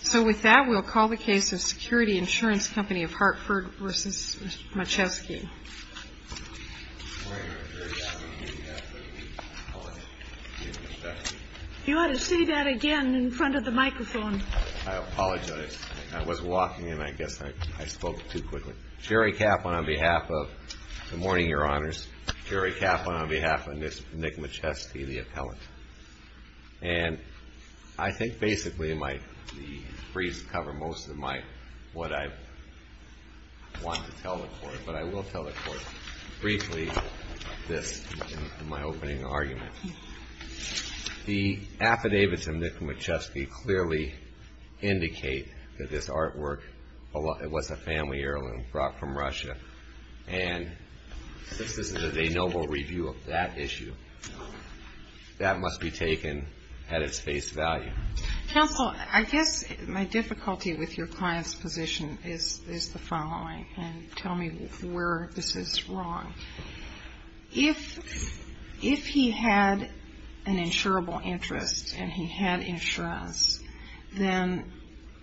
So with that, we'll call the case of Security Insurance Company of Hartford v. Machevsky. Good morning, Your Honor. Jerry Kaplan on behalf of the appellant, Nick Machevsky. You ought to say that again in front of the microphone. I apologize. I was walking, and I guess I spoke too quickly. Jerry Kaplan on behalf of – good morning, Your Honors. Jerry Kaplan on behalf of Nick Machevsky, the appellant. And I think basically the briefs cover most of what I want to tell the court, but I will tell the court briefly this in my opening argument. The affidavits of Nick Machevsky clearly indicate that this artwork was a family heirloom brought from Russia. And this is a noble review of that issue. That must be taken at its face value. Counsel, I guess my difficulty with your client's position is the following, and tell me where this is wrong. If he had an insurable interest and he had insurance, then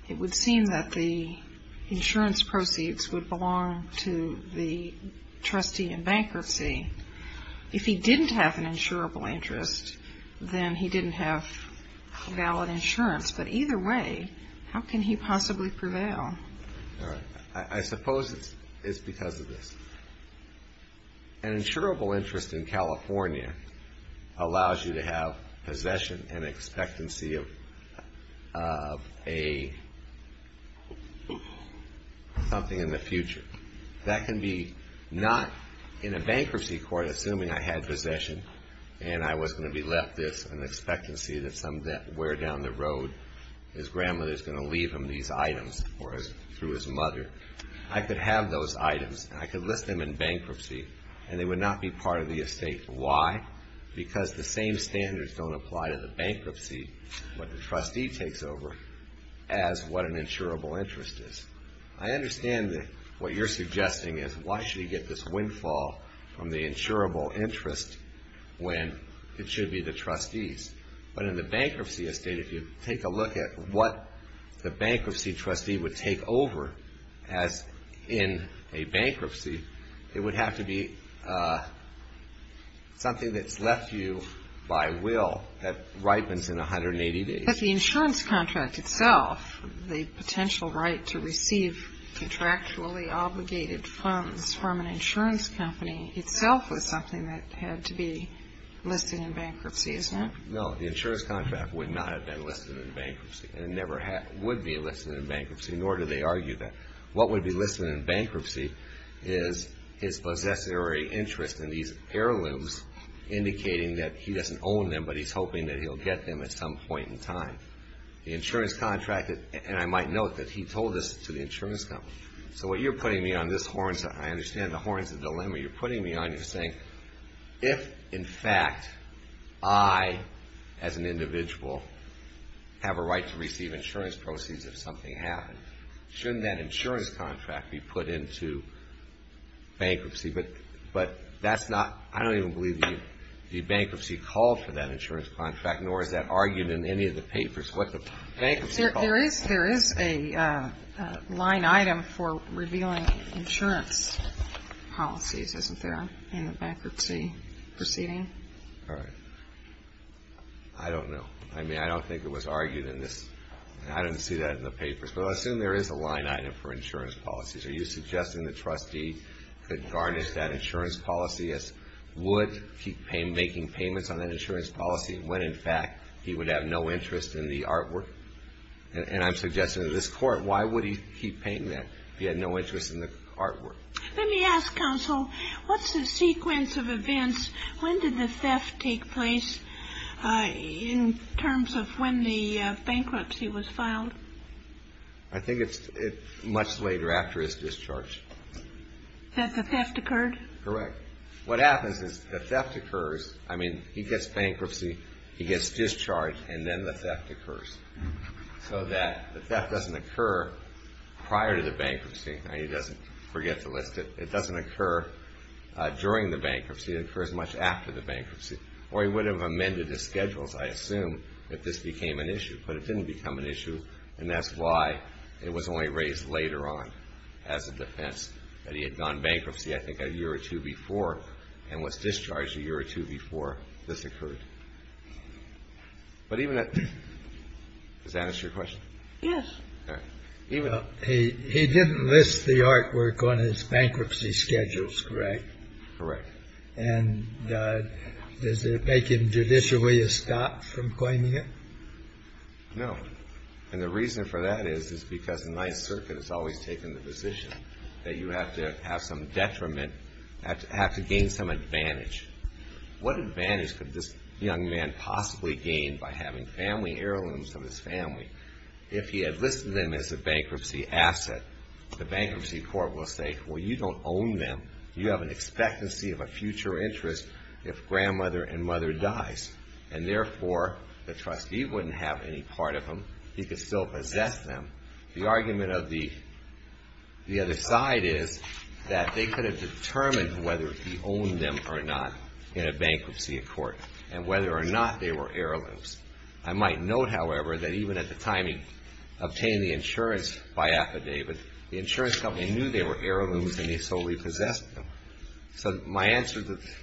it would seem that the insurance proceeds would belong to the trustee in bankruptcy. If he didn't have an insurable interest, then he didn't have valid insurance. But either way, how can he possibly prevail? I suppose it's because of this. An insurable interest in California allows you to have possession and expectancy of a – something in the future. That can be not in a bankruptcy court, assuming I had possession and I was going to be left this, an expectancy that somewhere down the road his grandmother is going to leave him these items, or through his mother. I could have those items, and I could list them in bankruptcy, and they would not be part of the estate. Why? Because the same standards don't apply to the bankruptcy, what the trustee takes over, as what an insurable interest is. I understand that what you're suggesting is, why should he get this windfall from the insurable interest when it should be the trustees? But in the bankruptcy estate, if you take a look at what the bankruptcy trustee would take over as in a bankruptcy, it would have to be something that's left to you by will that ripens in 180 days. But the insurance contract itself, the potential right to receive contractually obligated funds from an insurance company, itself was something that had to be listed in bankruptcy, isn't it? No, the insurance contract would not have been listed in bankruptcy, and never would be listed in bankruptcy, nor do they argue that. What would be listed in bankruptcy is his possessory interest in these heirlooms, indicating that he doesn't own them, but he's hoping that he'll get them at some point in time. The insurance contract, and I might note that he told this to the insurance company. So what you're putting me on this horn, I understand the horn's a dilemma, but you're putting me on here saying if, in fact, I, as an individual, have a right to receive insurance proceeds if something happens, shouldn't that insurance contract be put into bankruptcy? But that's not, I don't even believe the bankruptcy called for that insurance contract, There is a line item for revealing insurance policies, isn't there, in the bankruptcy proceeding? All right. I don't know. I mean, I don't think it was argued in this. I didn't see that in the papers. But I assume there is a line item for insurance policies. Are you suggesting the trustee could garnish that insurance policy, would keep making payments on that insurance policy when, in fact, he would have no interest in the artwork? And I'm suggesting to this Court, why would he keep paying that if he had no interest in the artwork? Let me ask, Counsel, what's the sequence of events? When did the theft take place in terms of when the bankruptcy was filed? I think it's much later after his discharge. That the theft occurred? Correct. What happens is the theft occurs. I mean, he gets bankruptcy, he gets discharge, and then the theft occurs. So that the theft doesn't occur prior to the bankruptcy. Now, he doesn't forget to list it. It doesn't occur during the bankruptcy. It occurs much after the bankruptcy. Or he would have amended his schedules, I assume, if this became an issue. But it didn't become an issue, and that's why it was only raised later on as a defense that he had gone bankruptcy, I think, a year or two before, and was discharged a year or two before this occurred. But even at the end, does that answer your question? Yes. All right. He didn't list the artwork on his bankruptcy schedules, correct? Correct. And does it make him judicially a stop from claiming it? No. And the reason for that is, is because the Ninth Circuit has always taken the position that you have to have some detriment, have to gain some advantage. What advantage could this young man possibly gain by having family heirlooms of his family? If he had listed them as a bankruptcy asset, the bankruptcy court will say, well, you don't own them. You have an expectancy of a future interest if grandmother and mother dies. And therefore, the trustee wouldn't have any part of them. He could still possess them. The argument of the other side is that they could have determined whether he owned them or not in a bankruptcy court and whether or not they were heirlooms. I might note, however, that even at the time he obtained the insurance by affidavit, the insurance company knew they were heirlooms, and he solely possessed them. So my answer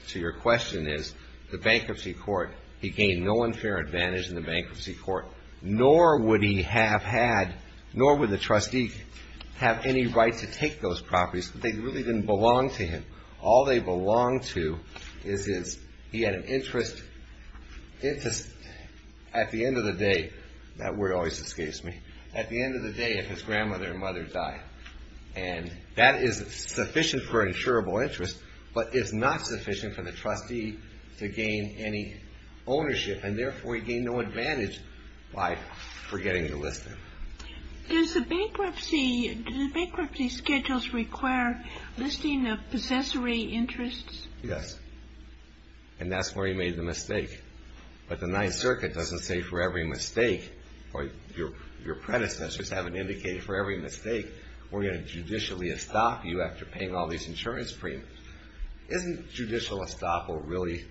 to your question is, the bankruptcy court, he gained no unfair advantage in the bankruptcy court, nor would he have had, nor would the trustee have any right to take those properties. They really didn't belong to him. All they belonged to is his, he had an interest at the end of the day. That word always escapes me. At the end of the day, if his grandmother and mother died. And that is sufficient for an insurable interest, but it's not sufficient for the trustee to gain any ownership. And therefore, he gained no advantage by forgetting to list them. Does the bankruptcy schedules require listing of possessory interests? Yes. And that's where he made the mistake. But the Ninth Circuit doesn't say for every mistake, or your predecessors haven't indicated for every mistake, we're going to judicially estop you after paying all these insurance premiums. Isn't judicial estoppel really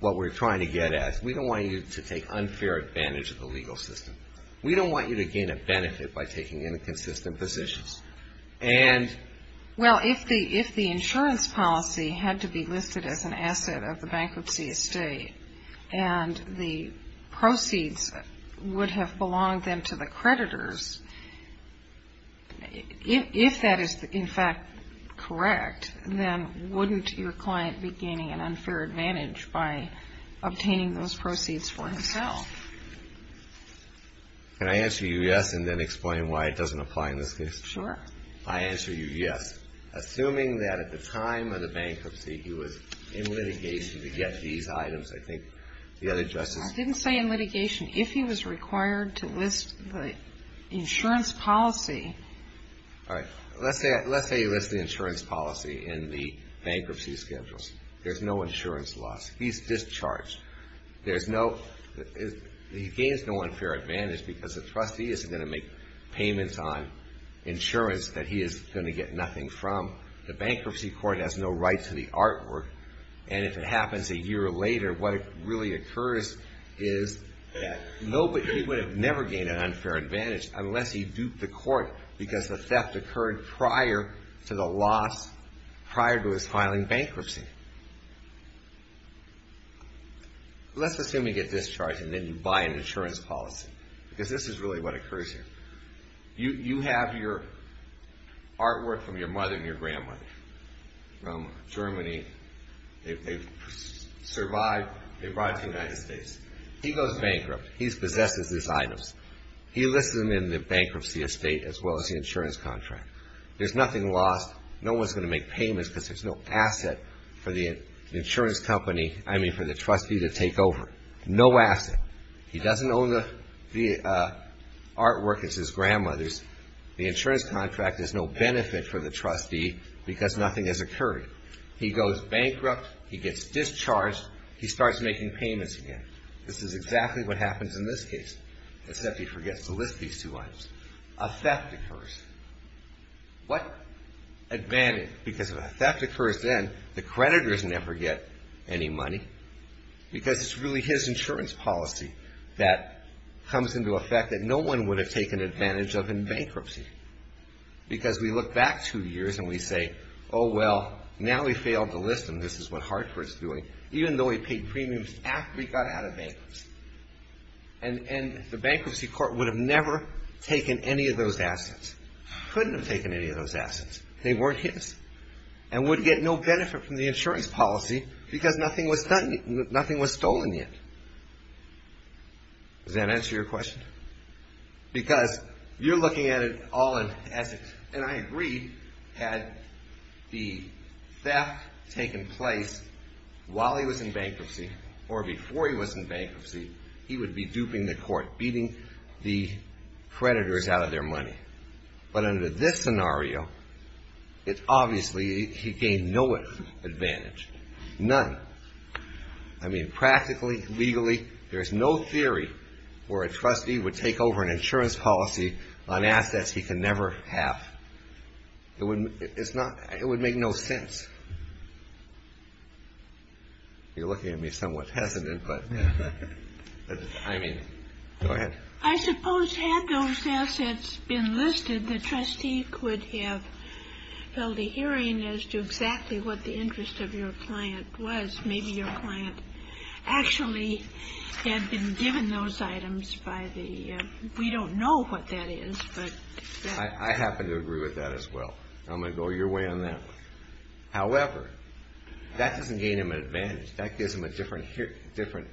what we're trying to get at? We don't want you to take unfair advantage of the legal system. We don't want you to gain a benefit by taking inconsistent positions. Well, if the insurance policy had to be listed as an asset of the bankruptcy estate, and the proceeds would have belonged then to the creditors, if that is, in fact, correct, then wouldn't your client be gaining an unfair advantage by obtaining those proceeds for himself? Can I answer you yes and then explain why it doesn't apply in this case? Sure. I answer you yes. Assuming that at the time of the bankruptcy, he was in litigation to get these items, I think the other justices. I didn't say in litigation. If he was required to list the insurance policy. All right. Let's say you list the insurance policy in the bankruptcy schedules. There's no insurance loss. He's discharged. He gains no unfair advantage because the trustee isn't going to make payments on insurance that he is going to get nothing from. The bankruptcy court has no right to the artwork, and if it happens a year later, what really occurs is that he would have never gained an unfair advantage unless he duped the court because the theft occurred prior to the loss prior to his filing bankruptcy. Let's assume you get discharged and then you buy an insurance policy because this is really what occurs here. You have your artwork from your mother and your grandmother from Germany. They survived. They brought it to the United States. He goes bankrupt. He possesses his items. He lists them in the bankruptcy estate as well as the insurance contract. There's nothing lost. No one's going to make payments because there's no asset for the insurance company, I mean for the trustee to take over. No asset. He doesn't own the artwork. It's his grandmother's. The insurance contract is no benefit for the trustee because nothing has occurred. He goes bankrupt. He gets discharged. He starts making payments again. This is exactly what happens in this case, except he forgets to list these two items. A theft occurs. What advantage? Because if a theft occurs then, the creditors never get any money because it's really his insurance policy that comes into effect that no one would have taken advantage of in bankruptcy because we look back two years and we say, oh, well, now he failed to list them. This is what Hartford's doing, even though he paid premiums after he got out of bankruptcy. And the bankruptcy court would have never taken any of those assets, couldn't have taken any of those assets. They weren't his and would get no benefit from the insurance policy because nothing was stolen yet. Does that answer your question? Because you're looking at it all in essence, and I agree, had the theft taken place while he was in bankruptcy or before he was in bankruptcy, he would be duping the court, beating the creditors out of their money. But under this scenario, it's obviously he gained no advantage, none. I mean, practically, legally, there's no theory where a trustee would take over an insurance policy on assets he could never have. It would make no sense. You're looking at me somewhat hesitant, but I mean, go ahead. I suppose had those assets been listed, the trustee could have held a hearing as to exactly what the interest of your client was. Maybe your client actually had been given those items by the, we don't know what that is. I happen to agree with that as well. I'm going to go your way on that one. However, that doesn't gain him an advantage. That gives him a different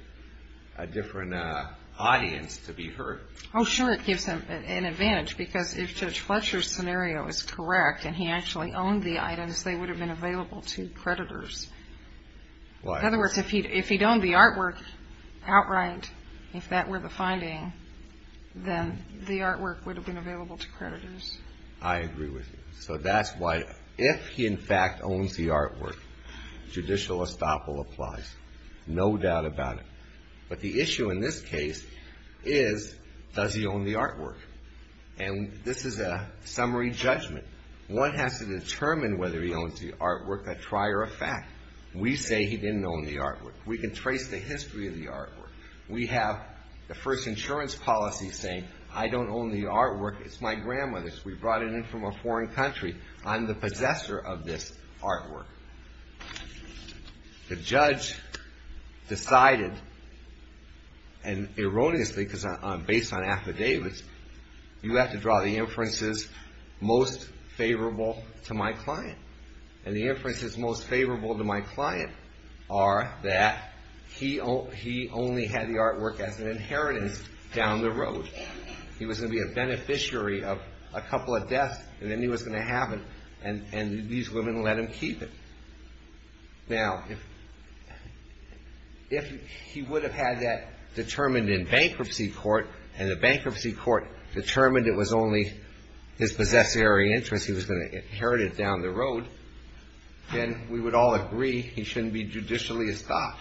audience to be heard. Oh, sure, it gives him an advantage because if Judge Fletcher's scenario is correct and he actually owned the items, they would have been available to creditors. In other words, if he'd owned the artwork outright, if that were the finding, then the artwork would have been available to creditors. I agree with you. So that's why if he in fact owns the artwork, judicial estoppel applies, no doubt about it. But the issue in this case is does he own the artwork? And this is a summary judgment. One has to determine whether he owns the artwork, a trier of fact. We say he didn't own the artwork. We can trace the history of the artwork. We have the first insurance policy saying I don't own the artwork. It's my grandmother's. We brought it in from a foreign country. I'm the possessor of this artwork. The judge decided, and erroneously because I'm based on affidavits, you have to draw the inferences most favorable to my client. And the inferences most favorable to my client are that he only had the artwork as an inheritance down the road. He was going to be a beneficiary of a couple of deaths, and then he was going to have it, and these women let him keep it. Now, if he would have had that determined in bankruptcy court and the bankruptcy court determined it was only his possessory interest he was going to inherit it down the road, then we would all agree he shouldn't be judicially estopped.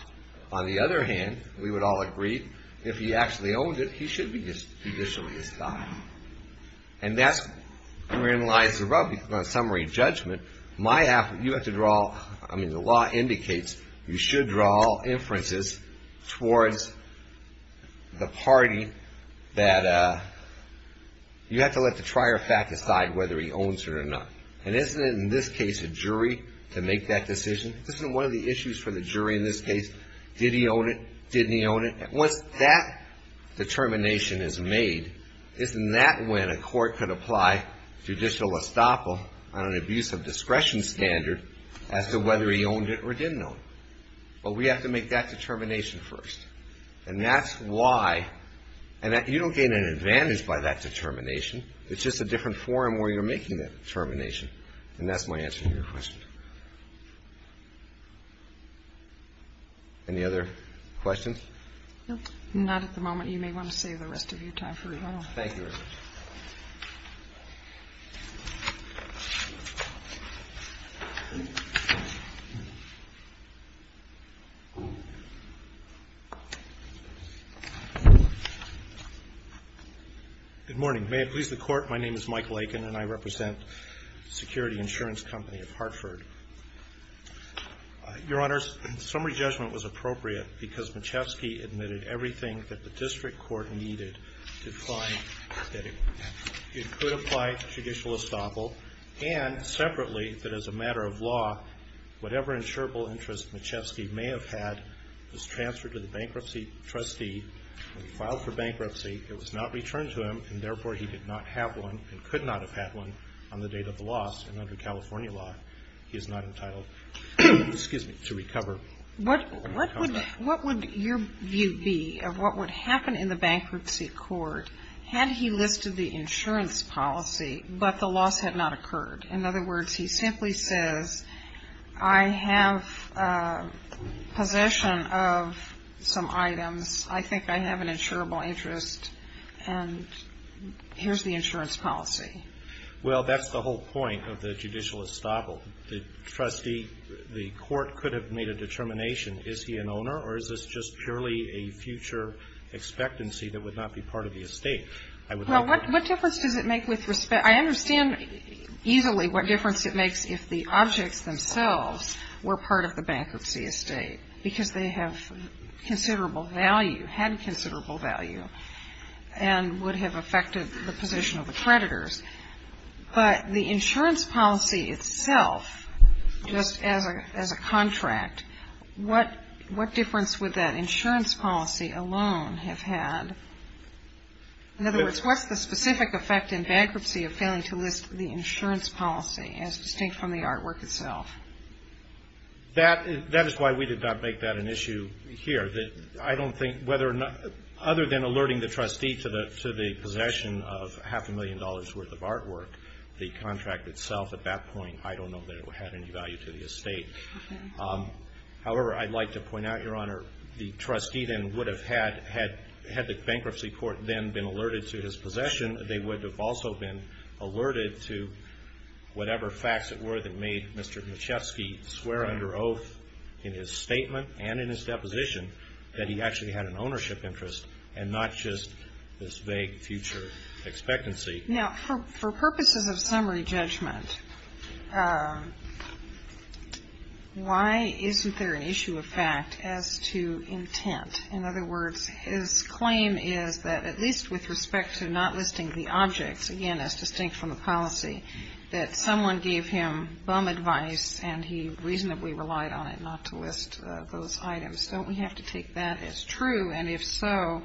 On the other hand, we would all agree if he actually owned it, he should be judicially estopped. And that's where it lies about summary judgment. You have to draw, I mean, the law indicates you should draw inferences towards the party that you have to let the prior fact decide whether he owns it or not. And isn't it in this case a jury to make that decision? Isn't one of the issues for the jury in this case, did he own it, didn't he own it? Once that determination is made, isn't that when a court could apply judicial estoppel on an abuse of discretion standard as to whether he owned it or didn't own it? Well, we have to make that determination first. And that's why you don't gain an advantage by that determination. It's just a different forum where you're making that determination. And that's my answer to your question. Any other questions? No. Not at the moment. You may want to save the rest of your time for rebuttal. Thank you, Your Honor. Good morning. May it please the Court, my name is Mike Lakin and I represent Security Insurance Company of Hartford. Your Honor, summary judgment was appropriate because Machevsky admitted everything that the district court needed to find that it could apply judicial estoppel and separately that as a matter of law, whatever insurable interest Machevsky may have had was transferred to the bankruptcy trustee and filed for bankruptcy. It was not returned to him and therefore he did not have one and could not have had one on the date of the loss. And under California law, he is not entitled to recover. What would your view be of what would happen in the bankruptcy court had he listed the insurance policy but the loss had not occurred? In other words, he simply says, I have possession of some items. I think I have an insurable interest and here's the insurance policy. Well, that's the whole point of the judicial estoppel. The trustee, the court could have made a determination, is he an owner or is this just purely a future expectancy that would not be part of the estate? Well, what difference does it make with respect? I understand easily what difference it makes if the objects themselves were part of the bankruptcy estate because they have considerable value, had considerable value, and would have affected the position of the creditors. But the insurance policy itself, just as a contract, what difference would that insurance policy alone have had? In other words, what's the specific effect in bankruptcy of failing to list the insurance policy as distinct from the artwork itself? That is why we did not make that an issue here. I don't think whether or not, other than alerting the trustee to the possession of half a million dollars' worth of artwork, the contract itself at that point, I don't know that it had any value to the estate. However, I'd like to point out, Your Honor, the trustee then would have had, had the bankruptcy court then been alerted to his possession, they would have also been alerted to whatever facts it were that made Mr. Maciejewski swear under oath in his statement and in his deposition that he actually had an ownership interest and not just this vague future expectancy. Now, for purposes of summary judgment, why isn't there an issue of fact as to intent? In other words, his claim is that at least with respect to not listing the objects, again, as distinct from the policy, that someone gave him bum advice and he reasonably relied on it not to list those items. Don't we have to take that as true? And if so,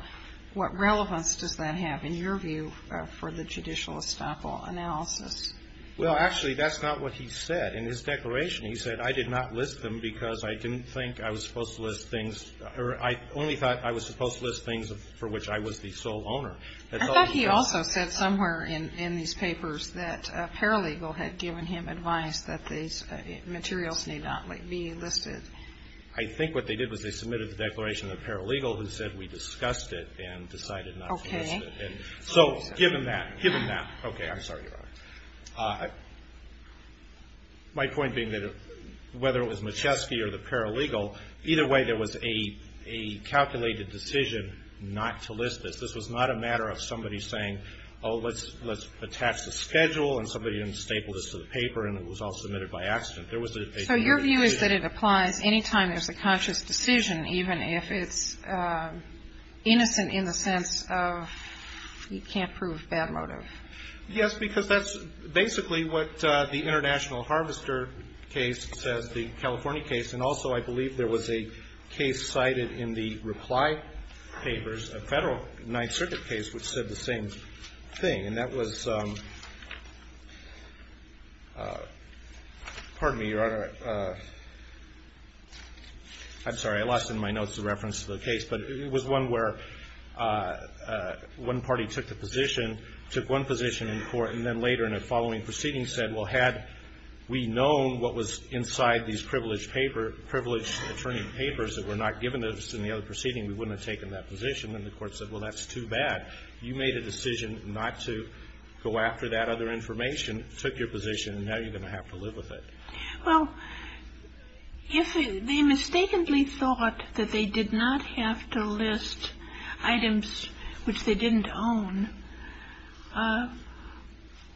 what relevance does that have in your view for the judicial estoppel analysis? Well, actually, that's not what he said. In his declaration, he said, I did not list them because I didn't think I was supposed to list things, or I only thought I was supposed to list things for which I was the sole owner. I thought he also said somewhere in these papers that a paralegal had given him advice that these materials need not be listed. I think what they did was they submitted the declaration to the paralegal, who said we discussed it and decided not to list it. Okay. So given that, given that, okay, I'm sorry, Your Honor. My point being that whether it was Maciejewski or the paralegal, either way there was a calculated decision not to list this. This was not a matter of somebody saying, oh, let's attach the schedule, and somebody didn't staple this to the paper, and it was all submitted by accident. There was a calculated decision. So your view is that it applies any time there's a conscious decision, even if it's innocent in the sense of you can't prove bad motive. Yes, because that's basically what the International Harvester case says, the California case, and also I believe there was a case cited in the reply papers, a Federal Ninth Circuit case which said the same thing. And that was, pardon me, Your Honor, I'm sorry, I lost in my notes the reference to the case, but it was one where one party took the position, took one position in court, and then later in a following proceeding said, well, had we known what was inside these privileged paper, privileged attorney papers that were not given us in the other proceeding, we wouldn't have taken that position. And the Court said, well, that's too bad. You made a decision not to go after that other information, took your position, and now you're going to have to live with it. Well, if they mistakenly thought that they did not have to list items which they didn't own,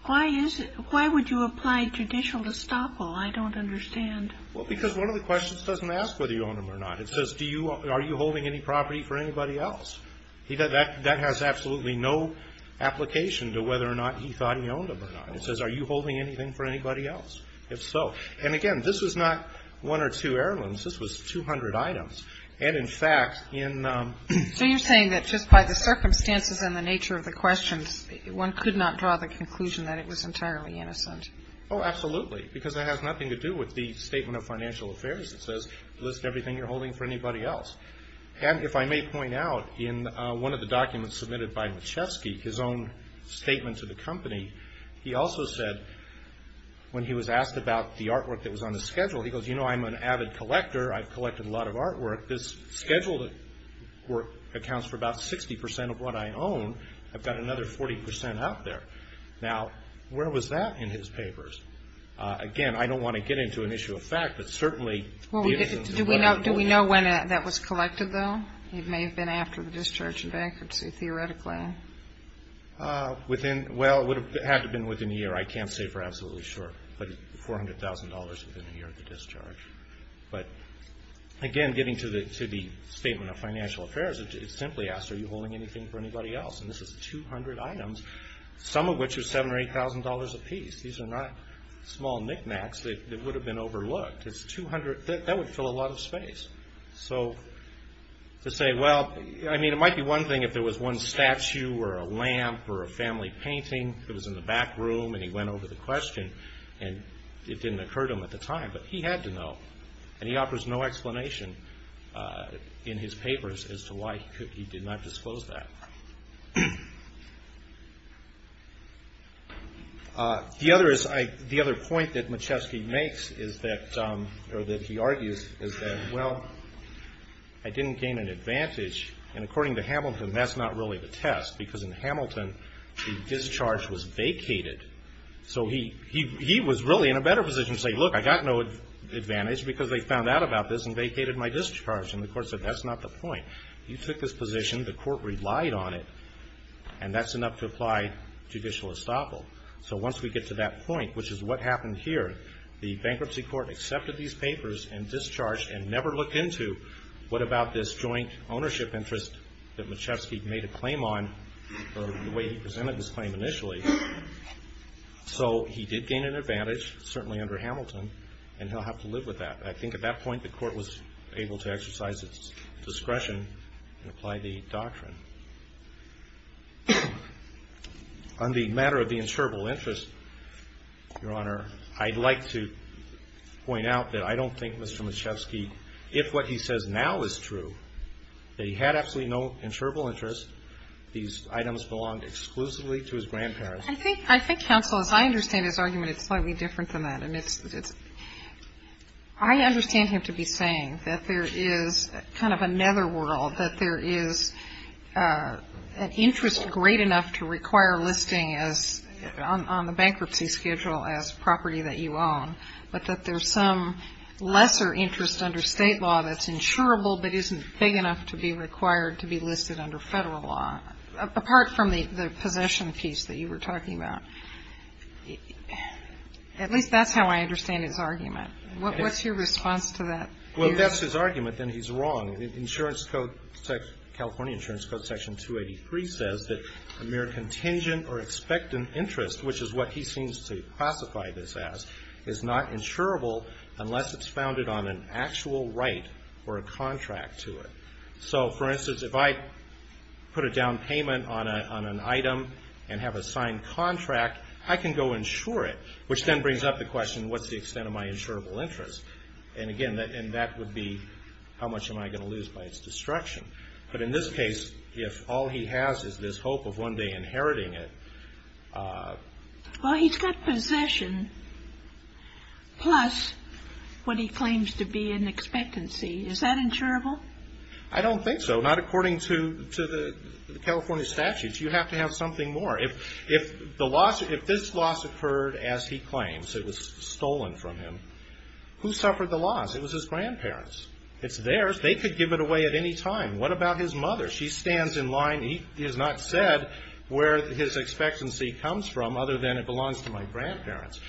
why is it, why would you apply judicial estoppel? I don't understand. Well, because one of the questions doesn't ask whether you own them or not. It says, do you, are you holding any property for anybody else? That has absolutely no application to whether or not he thought he owned them or not. It says, are you holding anything for anybody else? If so, and again, this was not one or two heirlooms. This was 200 items. So you're saying that just by the circumstances and the nature of the questions, one could not draw the conclusion that it was entirely innocent. Oh, absolutely, because it has nothing to do with the Statement of Financial Affairs. It says, list everything you're holding for anybody else. And if I may point out, in one of the documents submitted by Machewski, his own statement to the company, he also said, when he was asked about the artwork that was on the schedule, he goes, you know, I'm an avid collector. I've collected a lot of artwork. This scheduled work accounts for about 60% of what I own. I've got another 40% out there. Now, where was that in his papers? Again, I don't want to get into an issue of fact, but certainly the evidence is very important. Do we know when that was collected, though? It may have been after the discharge and bankruptcy, theoretically. Within, well, it would have had to have been within a year. I can't say for absolutely sure. But $400,000 within a year of the discharge. But, again, getting to the statement of Financial Affairs, it simply asks, are you holding anything for anybody else? And this is 200 items, some of which was $7,000 or $8,000 apiece. These are not small knickknacks that would have been overlooked. That would fill a lot of space. So, to say, well, I mean, it might be one thing if there was one statue or a lamp or a family painting that was in the back room, and he went over the question, and it didn't occur to him at the time, but he had to know, and he offers no explanation in his papers as to why he did not disclose that. The other point that Maciewski makes is that, or that he argues, is that, well, I didn't gain an advantage. And according to Hamilton, that's not really the test, because in Hamilton the discharge was vacated. So he was really in a better position to say, look, I got no advantage because they found out about this and vacated my discharge. And the court said, that's not the point. You took this position, the court relied on it, and that's enough to apply judicial estoppel. So once we get to that point, which is what happened here, the bankruptcy court accepted these papers and discharged and never looked into what about this joint ownership interest that Maciewski made a claim on the way he presented his claim initially. So he did gain an advantage, certainly under Hamilton, and he'll have to live with that. I think at that point the court was able to exercise its discretion and apply the doctrine. On the matter of the insurable interest, Your Honor, I'd like to point out that I don't think Mr. Maciewski, if what he says now is true, that he had absolutely no insurable interest, these items belonged exclusively to his grandparents. I think counsel, as I understand his argument, it's slightly different than that. I understand him to be saying that there is kind of a netherworld, that there is an interest great enough to require listing on the bankruptcy schedule as property that you own, but that there's some lesser interest under state law that's insurable but isn't big enough to be required to be listed under federal law, apart from the possession piece that you were talking about. At least that's how I understand his argument. What's your response to that? Well, if that's his argument, then he's wrong. The California Insurance Code, Section 283, says that a mere contingent or expectant interest, which is what he seems to classify this as, is not insurable unless it's founded on an actual right or a contract to it. For instance, if I put a down payment on an item and have a signed contract, I can go insure it, which then brings up the question, what's the extent of my insurable interest? Again, that would be, how much am I going to lose by its destruction? But in this case, if all he has is this hope of one day inheriting it... Well, he's got possession plus what he claims to be an expectancy. Is that insurable? I don't think so. Not according to the California statutes. You have to have something more. If this loss occurred as he claims, it was stolen from him, who suffered the loss? It was his grandparents. It's theirs. They could give it away at any time. What about his mother? She stands in line. He has not said where his expectancy comes from, other than it belongs to my grandparents.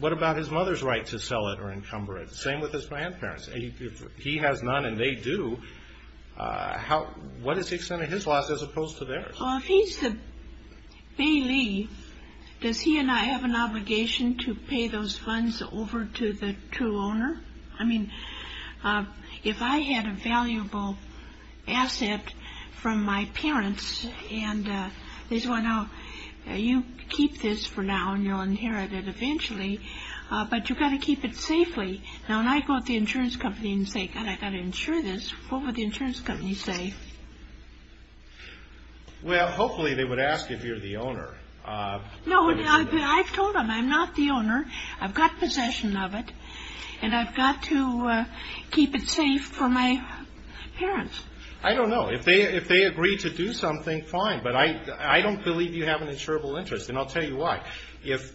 What about his mother's right to sell it or encumber it? Same with his grandparents. He has none and they do. What is the extent of his loss as opposed to theirs? Well, if he's the bailey, does he and I have an obligation to pay those funds over to the true owner? I mean, if I had a valuable asset from my parents and they said, well, no, you keep this for now and you'll inherit it eventually, but you've got to keep it safely. Now, when I go to the insurance company and say, God, I've got to insure this, what would the insurance company say? Well, hopefully they would ask if you're the owner. No, I've told them I'm not the owner. I've got possession of it. And I've got to keep it safe for my parents. I don't know. If they agree to do something, fine. But I don't believe you have an insurable interest. And I'll tell you why. If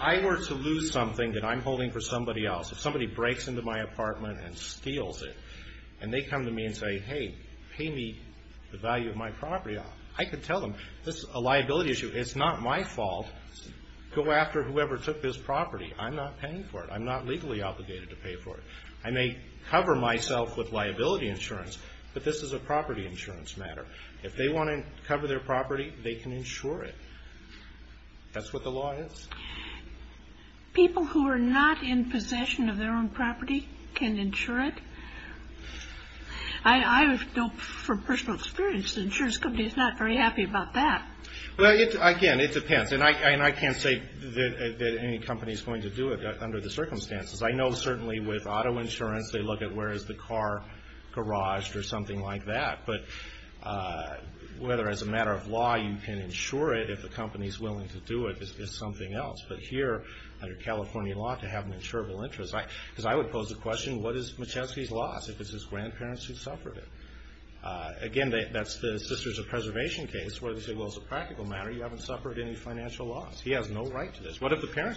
I were to lose something that I'm holding for somebody else, if somebody breaks into my apartment and steals it, and they come to me and say, hey, pay me the value of my property, I could tell them this is a liability issue. It's not my fault. Go after whoever took this property. I'm not paying for it. I'm not legally obligated to pay for it. I may cover myself with liability insurance, but this is a property insurance matter. If they want to cover their property, they can insure it. That's what the law is. People who are not in possession of their own property can insure it? I know from personal experience the insurance company is not very happy about that. Well, again, it depends. And I can't say that any company is going to do it under the circumstances. I know certainly with auto insurance, they look at where is the car garaged or something like that. But whether as a matter of law you can insure it, if the company is willing to do it is something else. But here, under California law, to have an insurable interest, because I would pose the question, what is Machevsky's loss, if it's his grandparents who suffered it? Again, that's the Sisters of Preservation case, where they say, well, as a practical matter, you haven't suffered any financial loss. He has no right to this. What if the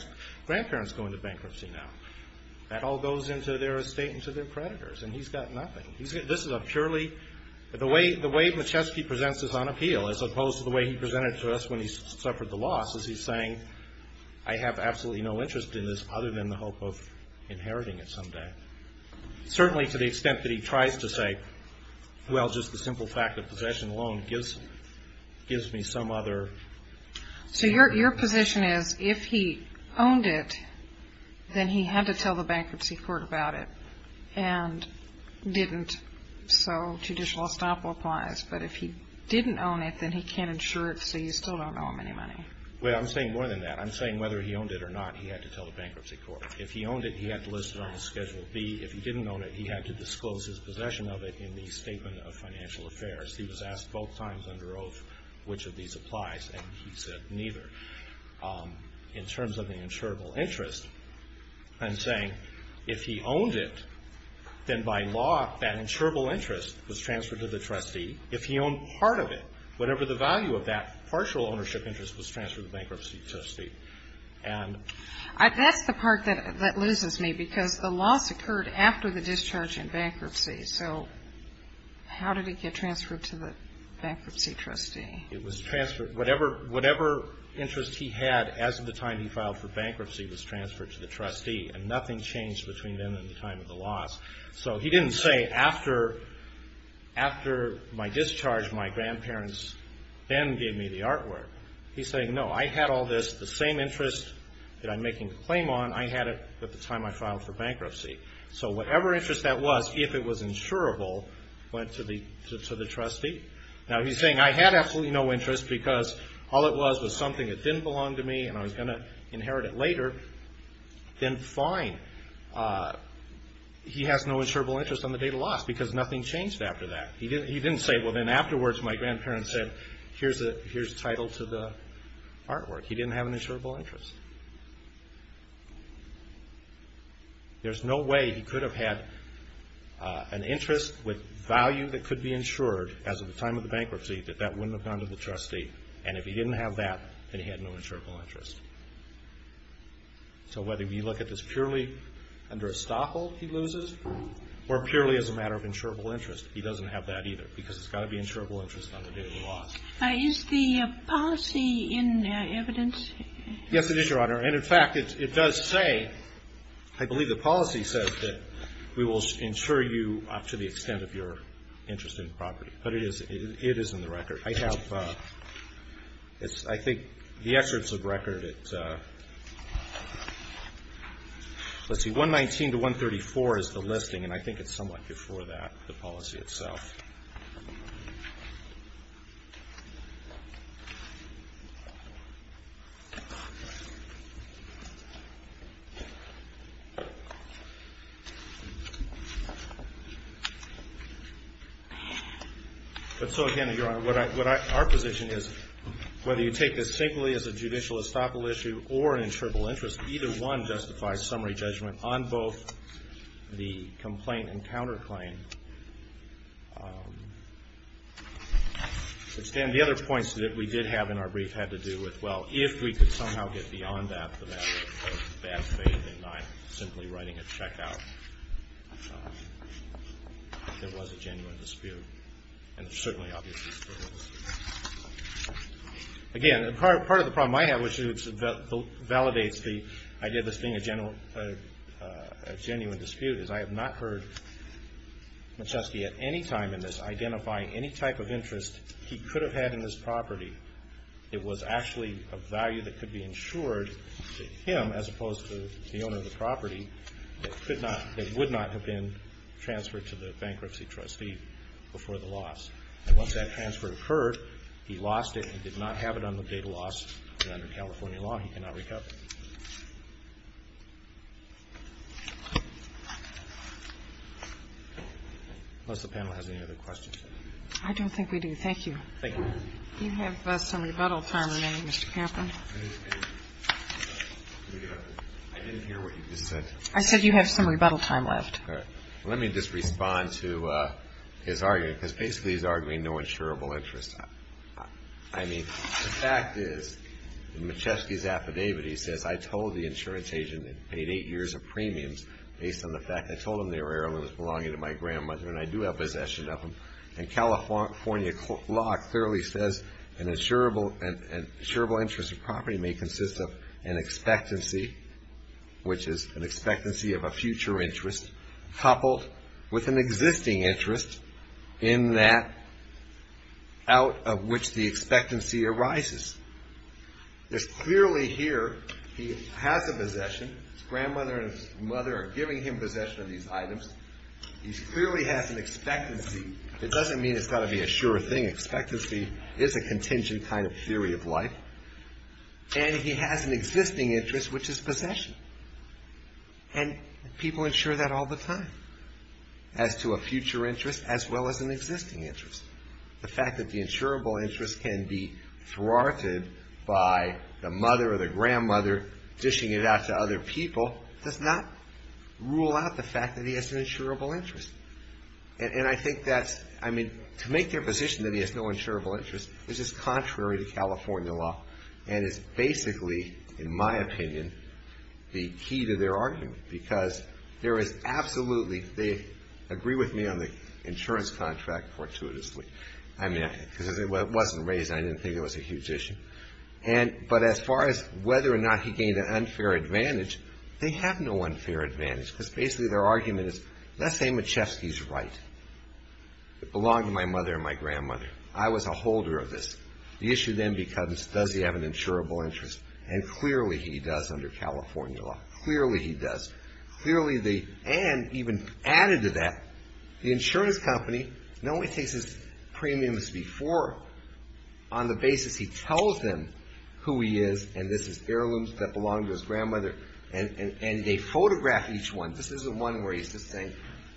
grandparents go into bankruptcy now? That all goes into their estate, into their creditors, and he's got nothing. This is a purely – the way Machevsky presents this on appeal, as opposed to the way he presented it to us when he suffered the loss, is he's saying, I have absolutely no interest in this other than the hope of inheriting it someday. Certainly to the extent that he tries to say, well, just the simple fact that possession alone gives me some other – So your position is, if he owned it, then he had to tell the bankruptcy court about it and didn't. So judicial estoppel applies. But if he didn't own it, then he can't insure it, so you still don't owe him any money. Well, I'm saying more than that. I'm saying whether he owned it or not, he had to tell the bankruptcy court. If he owned it, he had to list it on his Schedule B. If he didn't own it, he had to disclose his possession of it in the Statement of Financial Affairs. He was asked both times under oath which of these applies, and he said neither. In terms of the insurable interest, I'm saying if he owned it, then by law that insurable interest was transferred to the trustee. If he owned part of it, whatever the value of that partial ownership interest was transferred to the bankruptcy trustee. That's the part that loses me, because the loss occurred after the discharge in bankruptcy. So how did it get transferred to the bankruptcy trustee? It was transferred. Whatever interest he had as of the time he filed for bankruptcy was transferred to the trustee, and nothing changed between then and the time of the loss. So he didn't say, after my discharge, my grandparents then gave me the artwork. He's saying, no, I had all this, the same interest that I'm making a claim on, I had it at the time I filed for bankruptcy. So whatever interest that was, if it was insurable, went to the trustee. Now he's saying I had absolutely no interest because all it was was something that didn't belong to me and I was going to inherit it later, then fine. He has no insurable interest on the date of loss because nothing changed after that. He didn't say, well, then afterwards my grandparents said, here's the title to the artwork. He didn't have an insurable interest. There's no way he could have had an interest with value that could be insured as of the time of the bankruptcy that that wouldn't have gone to the trustee, and if he didn't have that, then he had no insurable interest. So whether you look at this purely under estoppel he loses or purely as a matter of insurable interest, he doesn't have that either because it's got to be insurable interest on the day of the loss. Is the policy in evidence? Yes, it is, Your Honor. And in fact, it does say, I believe the policy says that we will insure you to the extent of your interest in the property. But it is in the record. I have, I think, the excerpts of the record, let's see, 119 to 134 is the listing and I think it's somewhat before that, the policy itself. But so again, Your Honor, what our position is, whether you take this simply as a judicial estoppel issue or an insurable interest, either one justifies summary judgment on both the complaint and counterclaim. The other points that we did have in our brief had to do with, well, if we could somehow get beyond that, the matter of bad faith and not simply writing a check out. There was a genuine dispute. And certainly, obviously, there was. Again, part of the problem I have, which validates the idea of this being a genuine dispute, is I have not heard McCheskey at any time in this identifying any type of interest he could have had in this property that was actually of value that could be insured to him as opposed to the owner of the property that would not have been transferred to the bankruptcy trustee before the loss. And once that transfer occurred, he lost it. He did not have it on the date of loss. And under California law, he cannot recover it. Unless the panel has any other questions. I don't think we do. Thank you. Thank you. You have some rebuttal time remaining, Mr. Kampen. I didn't hear what you just said. I said you have some rebuttal time left. Let me just respond to his argument, because basically he's arguing no insurable interest. I mean, the fact is, in McCheskey's affidavit, he says, I told the insurance agent I paid eight years of premiums based on the fact I told him they were heirlooms belonging to my grandmother, and I do have possession of them. And California law clearly says an insurable interest of property may consist of an expectancy, which is an expectancy of a future interest, coupled with an existing interest in that out of which the expectancy arises. It's clearly here he has a possession. His grandmother and his mother are giving him possession of these items. He clearly has an expectancy. It doesn't mean it's got to be a sure thing. Expectancy is a contingent kind of theory of life. And he has an existing interest, which is possession. And people insure that all the time, as to a future interest as well as an existing interest. The fact that the insurable interest can be thwarted by the mother or the grandmother dishing it out to other people does not rule out the fact that he has an insurable interest. And I think that's, I mean, to make their position that he has no insurable interest is just contrary to California law and is basically, in my opinion, the key to their argument. Because there is absolutely, they agree with me on the insurance contract fortuitously. I mean, because it wasn't raised and I didn't think it was a huge issue. But as far as whether or not he gained an unfair advantage, they have no unfair advantage. Because basically their argument is, let's say Machevsky's right. It belonged to my mother and my grandmother. I was a holder of this. The issue then becomes, does he have an insurable interest? And clearly he does under California law. Clearly he does. Clearly the, and even added to that, the insurance company not only takes his premiums before, on the basis he tells them who he is, and this is heirlooms that belonged to his grandmother, and they photograph each one. This isn't one where he's just saying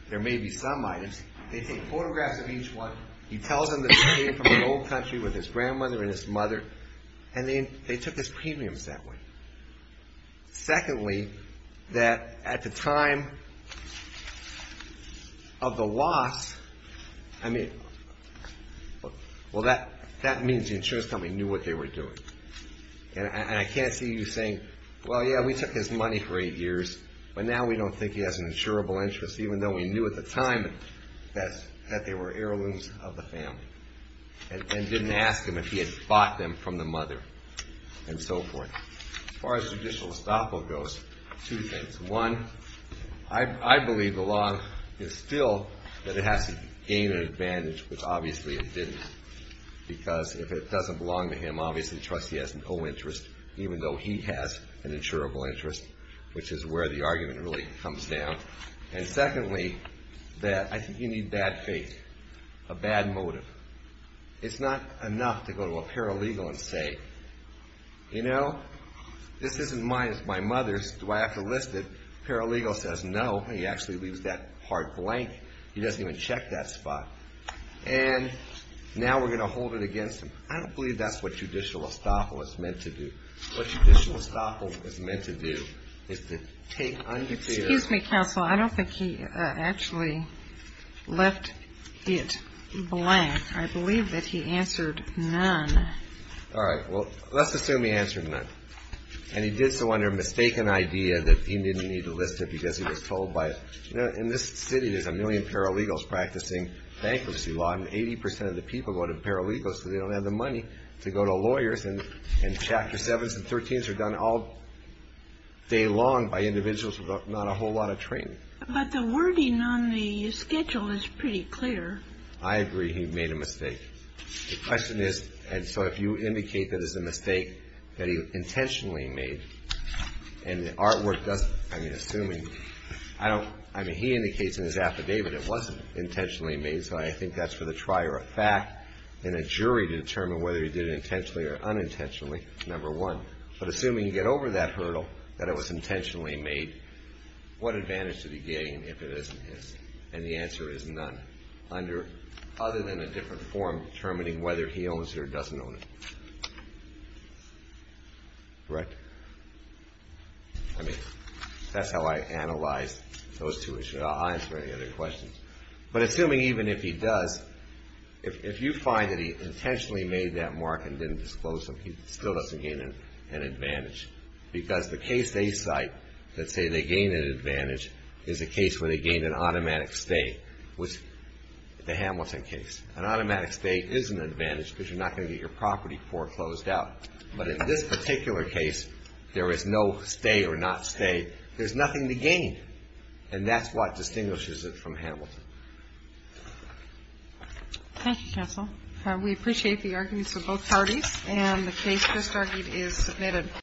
there may be some items. They take photographs of each one. He tells them that he came from an old country with his grandmother and his mother, and they took his premiums that way. Secondly, that at the time of the loss, I mean, well, that means the insurance company knew what they were doing. And I can't see you saying, well, yeah, we took his money for eight years, but now we don't think he has an insurable interest, even though we knew at the time that they were heirlooms of the family and didn't ask him if he had bought them from the mother and so forth. As far as judicial estoppel goes, two things. One, I believe the law is still that it has to gain an advantage, which obviously it didn't, because if it doesn't belong to him, obviously the trustee has no interest, even though he has an insurable interest, which is where the argument really comes down. And secondly, that I think you need bad faith, a bad motive. It's not enough to go to a paralegal and say, you know, this isn't mine, it's my mother's. Do I have to list it? Paralegal says no. He actually leaves that part blank. He doesn't even check that spot. And now we're going to hold it against him. I don't believe that's what judicial estoppel is meant to do. What judicial estoppel is meant to do is to take undeterred... Excuse me, counsel. I don't think he actually left it blank. I believe that he answered none. All right. Well, let's assume he answered none. And he did so under a mistaken idea that he didn't need to list it because he was told by... You know, in this city there's a million paralegals practicing bankruptcy law, and 80% of the people go to paralegals because they don't have the money to go to lawyers. And Chapter 7s and 13s are done all day long by individuals without a whole lot of training. But the wording on the schedule is pretty clear. I agree he made a mistake. The question is, and so if you indicate that it's a mistake that he intentionally made, and the artwork doesn't, I mean, assuming... I mean, he indicates in his affidavit it wasn't intentionally made, so I think that's for the trier of fact in a jury to determine whether he did it intentionally or unintentionally, number one. But assuming you get over that hurdle that it was intentionally made, what advantage did he gain if it isn't his? And the answer is none, other than a different form determining whether he owns it or doesn't own it. Correct? I mean, that's how I analyze those two issues. I'll answer any other questions. But assuming even if he does, if you find that he intentionally made that mark and didn't disclose it, he still doesn't gain an advantage because the case they cite that say they gain an advantage is a case where they gain an automatic stay, which is the Hamilton case. An automatic stay is an advantage because you're not going to get your property foreclosed out. But in this particular case, there is no stay or not stay. There's nothing to gain, and that's what distinguishes it from Hamilton. Thank you, counsel. We appreciate the arguments of both parties, and the case just argued is submitted.